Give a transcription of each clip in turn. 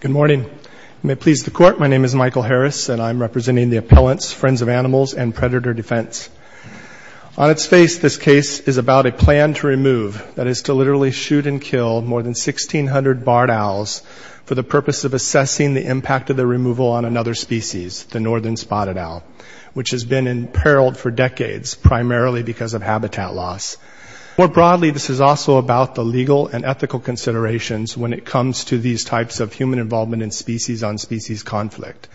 Good morning. May it please the Court, my name is Michael Harris and I am representing the appellants, Friends of Animals, and Predator Defense. On its face, this case is about a plan to remove, that is to literally shoot and kill, more than 1,600 barred owls for the purpose of assessing the impact of their removal on another species, the northern spotted owl, which has been imperiled for decades, primarily because of habitat loss. More broadly, this is also about the legal and ethical considerations when it comes to these types of human involvement in species-on-species conflict.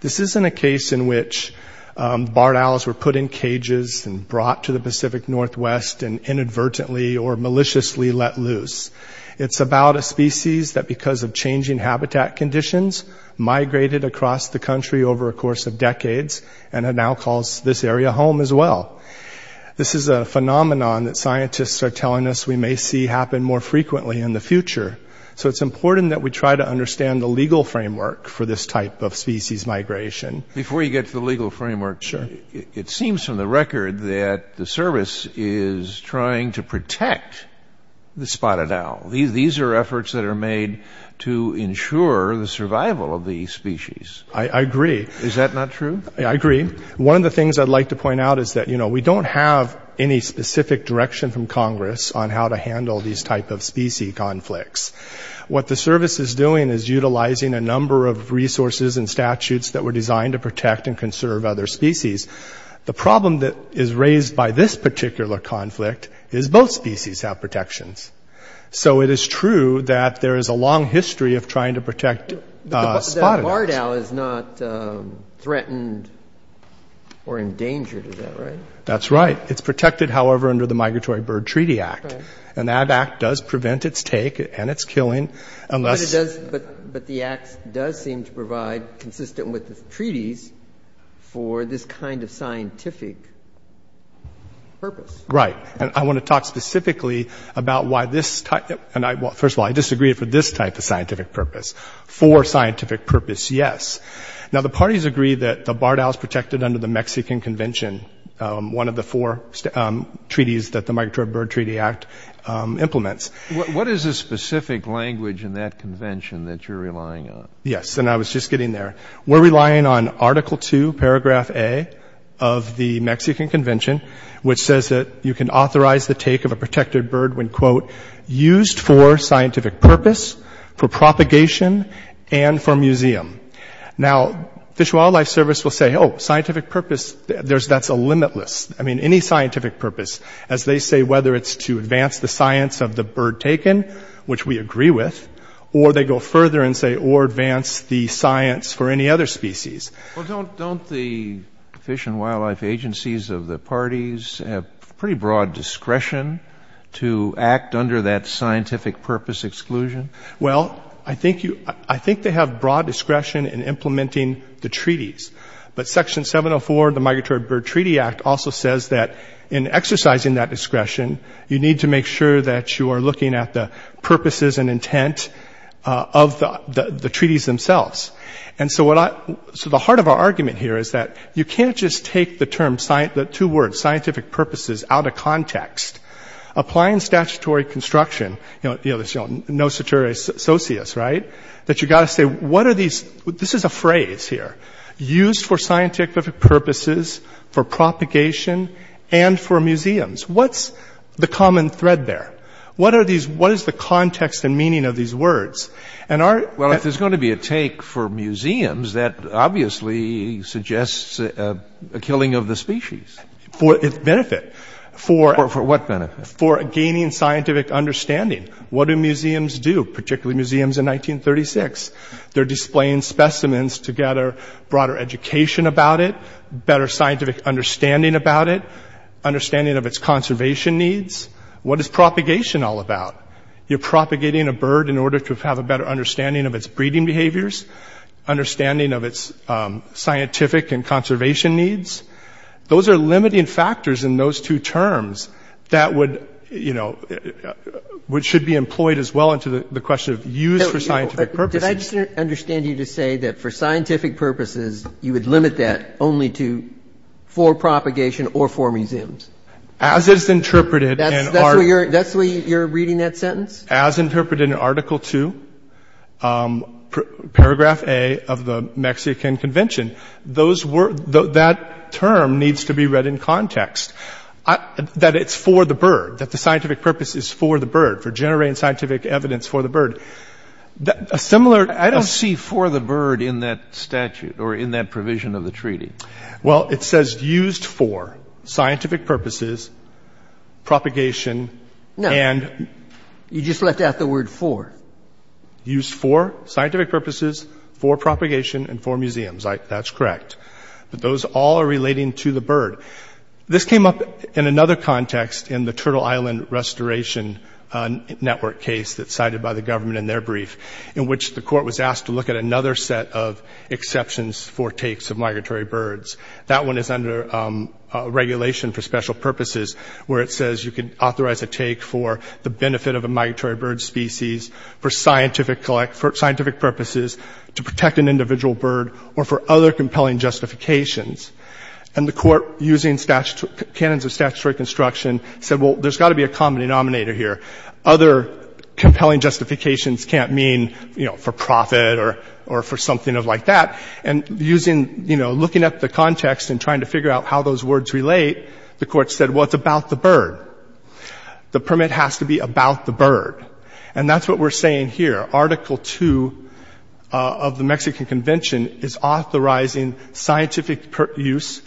This isn't a case in which barred owls were put in cages and brought to the Pacific Northwest and inadvertently or maliciously let loose. It's about a species that, because of changing habitat conditions, migrated across the country over a course of decades, and it now calls this area home as well. This is a phenomenon that scientists are telling us we may see happen more frequently in the future, so it's important that we try to understand the legal framework for this type of species migration. Before you get to the legal framework, it seems from the record that the Service is ensuring the survival of the species. I agree. Is that not true? I agree. One of the things I'd like to point out is that, you know, we don't have any specific direction from Congress on how to handle these type of species conflicts. What the Service is doing is utilizing a number of resources and statutes that were designed to protect and conserve other species. The problem that is raised by this particular conflict is both species have protections. So it is true that there is a long history of trying to protect spotted axe. But the barred owl is not threatened or endangered, is that right? That's right. It's protected, however, under the Migratory Bird Treaty Act, and that act does prevent its take and its killing, unless... But the act does seem to provide, consistent with the treaties, for this kind of scientific purpose. Right. And I want to talk specifically about why this type... First of all, I disagree for this type of scientific purpose. For scientific purpose, yes. Now, the parties agree that the barred owl is protected under the Mexican Convention, one of the four treaties that the Migratory Bird Treaty Act implements. What is the specific language in that convention that you're relying on? Yes, and I was just getting there. We're relying on Article 2, Paragraph A, of the Mexican Convention, that you can authorize the take of a protected bird when, quote, used for scientific purpose, for propagation, and for museum. Now, Fish and Wildlife Service will say, oh, scientific purpose, that's limitless. I mean, any scientific purpose, as they say, whether it's to advance the science of the bird taken, which we agree with, or they go further and say, or advance the science for any other species. Well, don't the fish and wildlife agencies of the parties have pretty broad discretion to act under that scientific purpose exclusion? Well, I think they have broad discretion in implementing the treaties. But Section 704 of the Migratory Bird Treaty Act also says that in exercising that discretion, you need to make sure that you are looking at the purposes and intent of the treaties themselves. And so the heart of our argument here is that you can't just take the two words, scientific purposes, out of context. Applying statutory construction, you know, the notion of no satiric associates, right? That you've got to say, what are these? This is a phrase here. Used for scientific purposes, for propagation, and for museums. What's the common thread there? What is the context and meaning of these words? Well, if there's going to be a take for museums, that obviously suggests a killing of the species. For its benefit. For what benefit? For gaining scientific understanding. What do museums do, particularly museums in 1936? They're displaying specimens to gather broader education about it, better scientific understanding about it, understanding of its conservation needs. What is propagation all about? You're going to have a better understanding of its breeding behaviors, understanding of its scientific and conservation needs. Those are limiting factors in those two terms that would, you know, which should be employed as well into the question of use for scientific purposes. Did I just understand you to say that for scientific purposes, you would limit that only to for propagation or for museums? As is interpreted in our... That's the way you're reading that sentence? As interpreted in Article 2, Paragraph A of the Mexican Convention. Those were, that term needs to be read in context. That it's for the bird, that the scientific purpose is for the bird, for generating scientific evidence for the bird. A similar... I don't see for the bird in that statute or in that provision of the treaty. Well, it says used for scientific purposes, propagation, and... No. You just left out the word for. Used for scientific purposes, for propagation, and for museums. That's correct. But those all are relating to the bird. This came up in another context in the Turtle Island Restoration Network case that's cited by the government in their brief, in which the court was asked to look at another set of exceptions for takes of migratory birds. That one is under regulation for special purposes, where it says you can authorize a take for the benefit of a migratory bird species, for scientific purposes, to protect an individual bird, or for other compelling justifications. And the court, using canons of statutory construction, said, well, there's got to be a common denominator here. Other compelling justifications can't mean for profit or for something like that. And using, you know, looking at the context and trying to figure out how those words relate, the court said, well, it's about the bird. The permit has to be about the bird. And that's what we're saying here. Article 2 of the Mexican Convention is authorizing scientific use,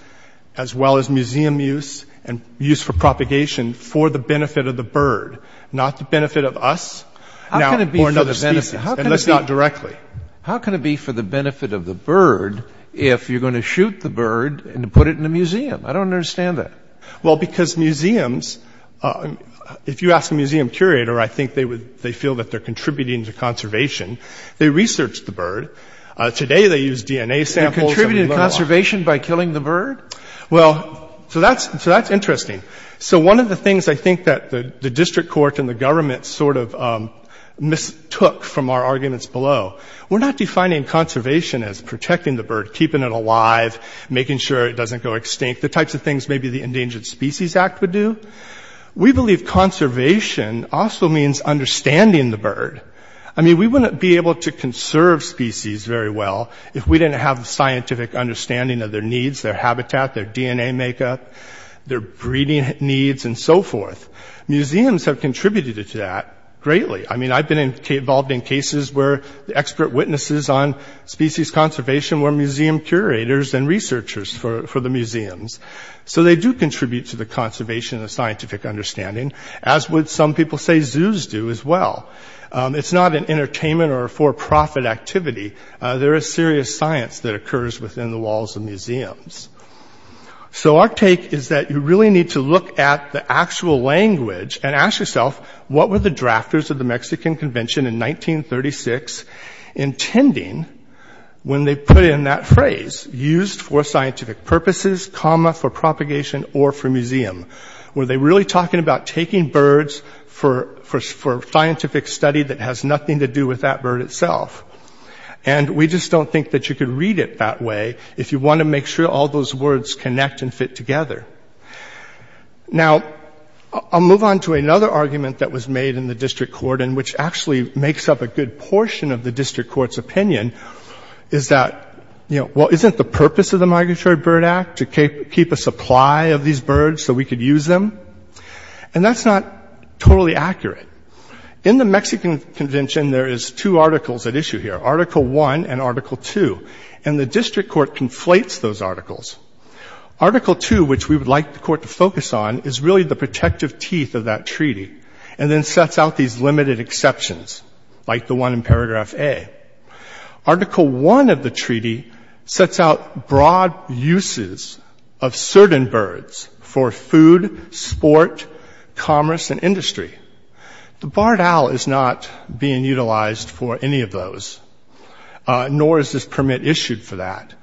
as well as museum use, and use for propagation for the benefit of the bird, not the benefit of us, or another species, unless not directly. How can it be for the benefit of the bird if you're going to shoot the bird and put it in a museum? I don't understand that. Well, because museums, if you ask a museum curator, I think they feel that they're contributing to conservation. They research the bird. Today, they use DNA samples. They contribute to conservation by killing the bird? Well, so that's interesting. So one of the things I think that the district court and our arguments below, we're not defining conservation as protecting the bird, keeping it alive, making sure it doesn't go extinct, the types of things maybe the Endangered Species Act would do. We believe conservation also means understanding the bird. I mean, we wouldn't be able to conserve species very well if we didn't have the scientific understanding of their needs, their habitat, their DNA makeup, their breeding needs, and so forth. Museums have contributed to that greatly. I mean, I've been involved in cases where expert witnesses on species conservation were museum curators and researchers for the museums. So they do contribute to the conservation of scientific understanding, as would some people say zoos do as well. It's not an entertainment or a for-profit activity. There is serious science that occurs within the walls of museums. So our take is that you really need to look at the actual language and ask yourself, what were the drafters of the Mexican Convention in 1936 intending when they put in that phrase, used for scientific purposes, comma, for propagation or for museum? Were they really talking about taking birds for scientific study that has nothing to do with that bird itself? And we just don't think that you could read it that way if you want to make sure all those words connect and fit together. Now, I'll move on to another argument that was made in the district court and which actually makes up a good portion of the district court's opinion, is that, well, isn't the purpose of the Migratory Bird Act to keep a supply of these birds so we could use them? And that's not totally accurate. In the Mexican Convention, there is two articles at issue here. Article 1 and Article 2. And the district court conflates those articles. Article 2, which we would like the court to focus on, is really the protective teeth of that treaty and then sets out these limited exceptions, like the one in paragraph A. Article 1 of the treaty sets out broad uses of certain birds for food, sport, commerce, and industry. The barred use is not penalized for any of those, nor is this permit issued for that.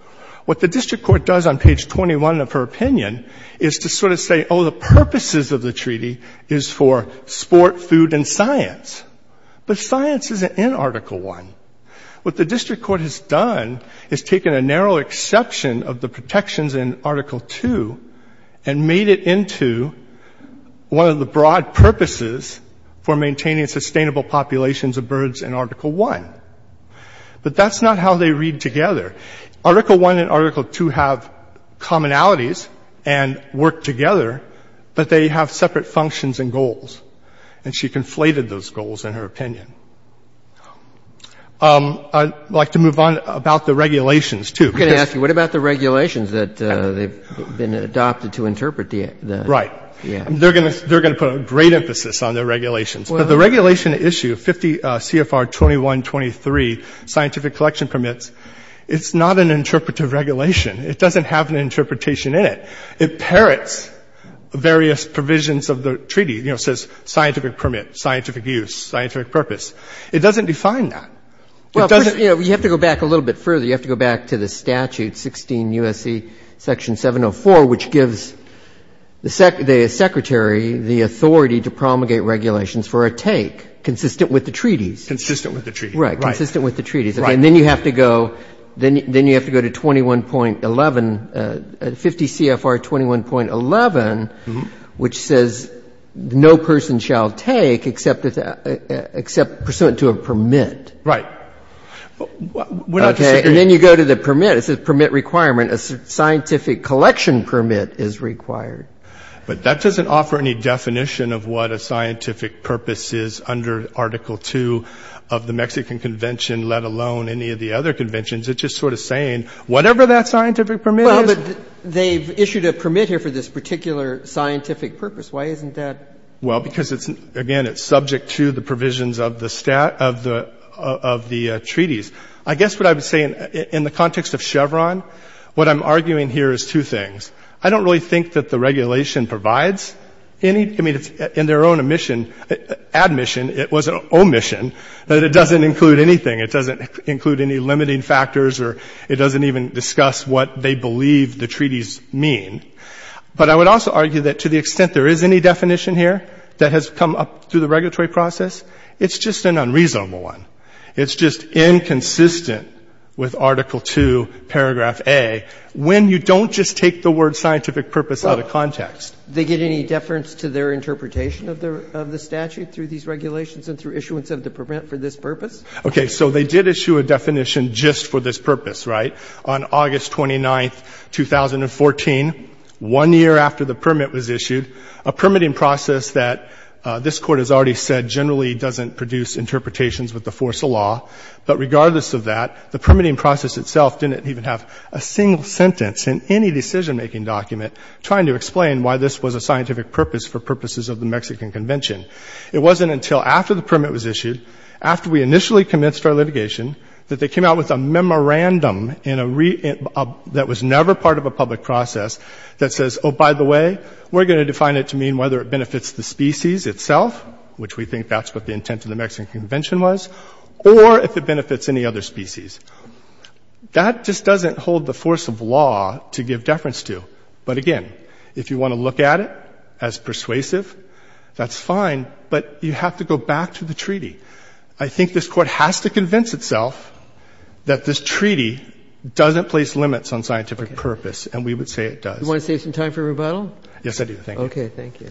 What the district court does on page 21 of her opinion is to sort of say, oh, the purposes of the treaty is for sport, food, and science. But science isn't in Article 1. What the district court has done is taken a narrow exception of the protections in Article 2 and made it into one of the broad purposes for maintaining sustainable populations of birds in Article 1. But that's not how they read together. Article 1 and Article 2 have commonalities and work together, but they have separate functions and goals. And she conflated those goals in her opinion. I'd like to move on about the regulations, too. I'm going to ask you, what about the regulations that have been adopted to interpret the act? Right. They're going to put a great emphasis on the regulations. But the regulation issue, CFR 2123, scientific collection permits, it's not an interpretive regulation. It doesn't have an interpretation in it. It parrots various provisions of the treaty. You know, it says scientific permit, scientific use, scientific purpose. It doesn't define that. Well, you have to go back a little bit further. You have to go back to the statute, 16 U.S.C. Section 704, which gives the Secretary the authority to promulgate regulations for a take consistent with the treaties. Consistent with the treaties. Right. Consistent with the treaties. Right. And then you have to go to 21.11, 50 CFR 21.11, which says no person shall take except pursuant to a permit. Right. Okay. And then you go to the permit. It says permit requirement. A scientific collection permit is required. But that doesn't offer any definition of what a scientific purpose is under Article 2 of the Mexican Convention, let alone any of the other conventions. It's just sort of saying whatever that scientific permit is. Well, but they've issued a permit here for this particular scientific purpose. Why isn't that? Well, because it's, again, it's subject to the provisions of the treaties. I guess what I would say in the context of Chevron, what I'm arguing here is two things. I don't really think that the regulation provides any, I mean, it's in their own admission, it was an omission, that it doesn't include anything. It doesn't include any limiting factors or it doesn't even discuss what they believe the treaties mean. But I would also argue that to the extent there is any definition here that has come up through the regulatory process, it's just an unreasonable one. It's just inconsistent with Article 2, paragraph A, when you don't just take the word scientific purpose out of context. Well, they get any deference to their interpretation of the statute through these regulations and through issuance of the permit for this purpose? Okay. So they did issue a definition just for this purpose, right, on August 29, 2014, one year after the permit was issued, a permitting process that this Court has already said generally doesn't produce interpretations with the force of law. But regardless of that, the permitting process itself didn't even have a single sentence in any decision-making document trying to explain why this was a scientific purpose for purposes of the Mexican Convention. It wasn't until after the permit was issued, after we initially commenced our litigation, that they came out with a memorandum that was never part of a public process that says, oh, by the way, we're going to define it to mean whether it benefits the species itself, which we think that's what the intent of the Mexican Convention was, or if it benefits any other species. That just doesn't hold the force of law to give deference to. But again, if you want to look at it as persuasive, that's fine, but you have to go back to the treaty. I think this Court has to convince itself that this treaty doesn't place limits on scientific purpose, and we would say it does. Do you want to save some time for rebuttal? Yes, I do. Thank you. Okay. Thank you.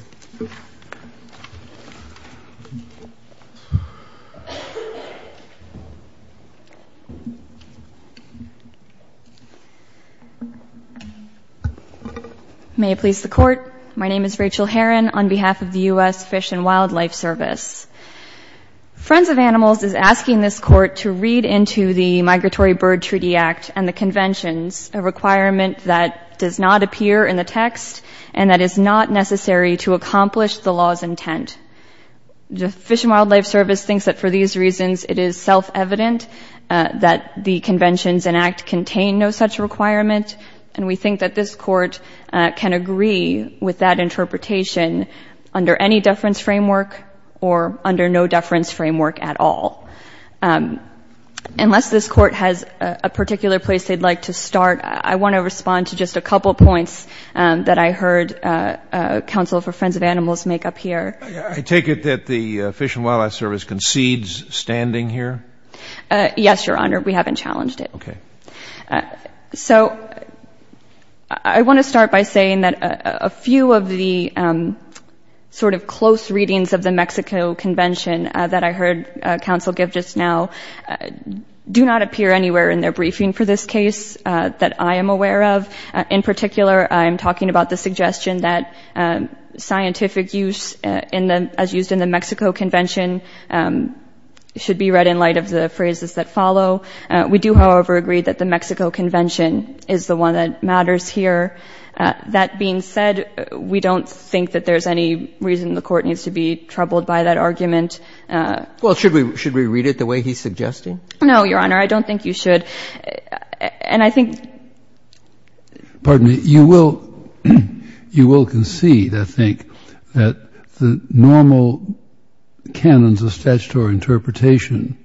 May it please the Court. My name is Rachel Herron on behalf of the U.S. Fish and Wildlife Service. Friends of Animals is asking this Court to read into the Migratory Bird Treaty Act and the Conventions, a requirement that does not appear in the text and that is not necessary to accomplish the law's intent. The Fish and Wildlife Service thinks that for these reasons it is self-evident that the Conventions and Act contain no such requirement, and we think that this Court can agree with that interpretation under any deference framework or under no deference framework at all. Unless this Court has a particular place they'd like to start, I want to respond to just a couple of points that I heard Council for Friends of Animals make up here. I take it that the Fish and Wildlife Service concedes standing here? Yes, Your Honor. We haven't challenged it. Okay. So I want to start by saying that a few of the sort of close readings of the Mexico Convention that I heard Council give just now do not appear anywhere in their briefing for this case that I am aware of. In particular, I'm talking about the suggestion that scientific use as used in the Mexico Convention should be read in light of the phrases that follow. We do, however, agree that the Mexico Convention is the one that matters here. That being said, we don't think that there's any reason the Court needs to be troubled by that argument. Well, should we read it the way he's suggesting? No, Your Honor. I don't think you should. And I think — Pardon me. You will concede, I think, that the normal canons of statutory interpretation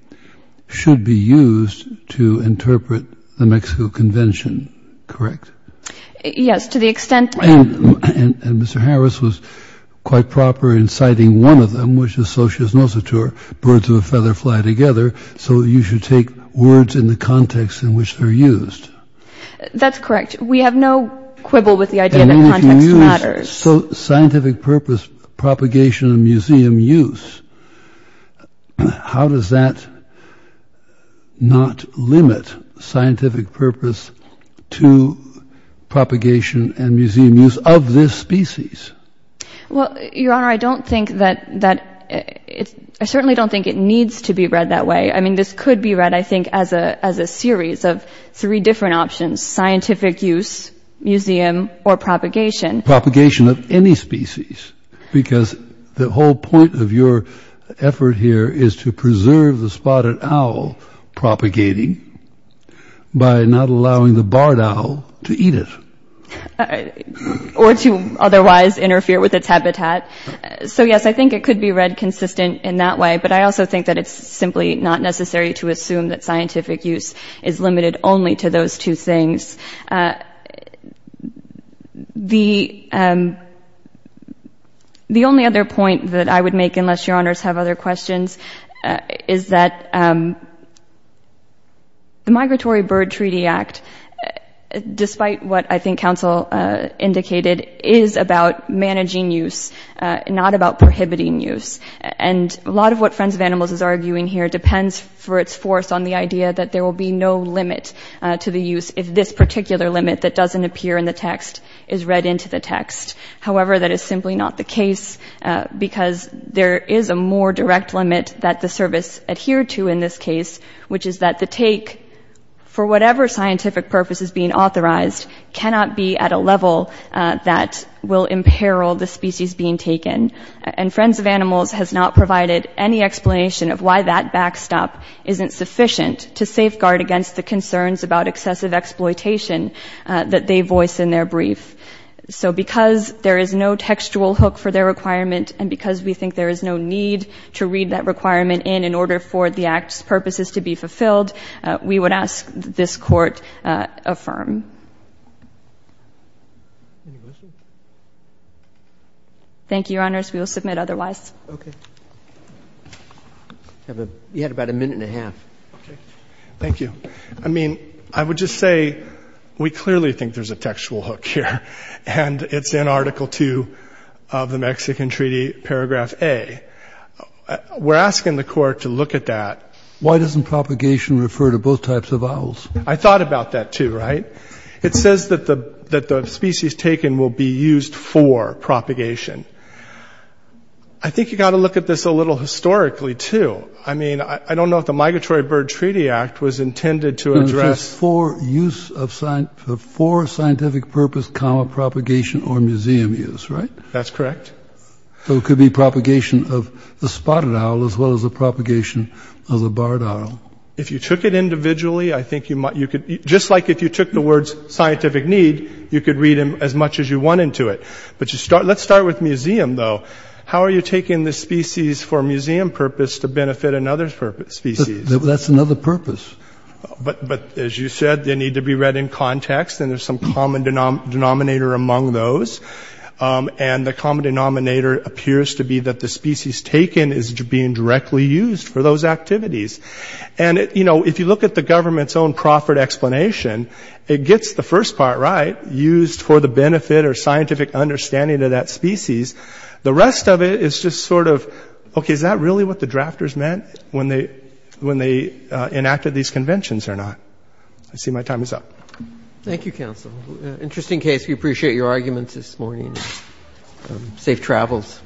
should be used to interpret the Mexico Convention, correct? Yes, to the extent — And Mr. Harris was quite proper in citing one of them, which is Socio-Sinocitor, birds of a feather fly together. So you should take words in the context in which they're used. That's correct. We have no quibble with the idea that context matters. So scientific purpose, propagation, and museum use, how does that not limit scientific purpose to propagation and museum use of this species? Well, Your Honor, I don't think that — I certainly don't think it needs to be read that way. I mean, this could be read, I think, as a series of three different options, scientific use, museum, or propagation. Propagation of any species, because the whole point of your effort here is to preserve the spotted owl propagating by not allowing the barred owl to eat it. Or to otherwise interfere with its habitat. So yes, I think it could be read consistent in that way. But I also think that it's simply not necessary to assume that scientific use is limited only to those two things. The only other point that I would make, unless Your Honors have other questions, is that the Migratory Bird Treaty Act, despite what I think counsel indicated, is about managing use, not about prohibiting use. And a lot of what Friends of Animals is arguing here depends for its force on the idea that there will be no limit to the use if this particular bird is used. Any particular limit that doesn't appear in the text is read into the text. However, that is simply not the case, because there is a more direct limit that the service adhered to in this case, which is that the take, for whatever scientific purpose is being authorized, cannot be at a level that will imperil the species being taken. And Friends of Animals has not provided any explanation of why that backstop isn't sufficient to safeguard against the concerns about excessive exploitation that they voice in their brief. So because there is no textual hook for their requirement and because we think there is no need to read that requirement in in order for the Act's purposes to be fulfilled, we would ask this Court affirm. Any questions? Thank you, Your Honors. We will submit otherwise. Okay. You had about a minute and a half. Okay. Thank you. I mean, I would just say we clearly think there's a textual hook here, and it's in Article 2 of the Mexican Treaty, Paragraph A. We're asking the Court to look at that. Why doesn't propagation refer to both types of owls? I thought about that, too, right? It says that the species taken will be used for propagation. I think you've got to look at this a little historically, too. I mean, I don't know if the Migratory Bird Treaty Act was intended to address For scientific purpose, propagation, or museum use, right? That's correct. So it could be propagation of the spotted owl as well as the propagation of the barred owl. If you took it individually, I think you might. Just like if you took the words scientific need, you could read them as much as you want into it. But let's start with museum, though. How are you taking the species for museum purpose to benefit another species? That's another purpose. But, as you said, they need to be read in context, and there's some common denominator among those. And the common denominator appears to be that the species taken is being directly used for those activities. And, you know, if you look at the government's own proffered explanation, it gets the first part right, used for the benefit or scientific understanding of that species. The rest of it is just sort of, okay, is that really what the drafters meant when they enacted these conventions or not? I see my time is up. Thank you, counsel. Interesting case. We appreciate your arguments this morning. Safe travels.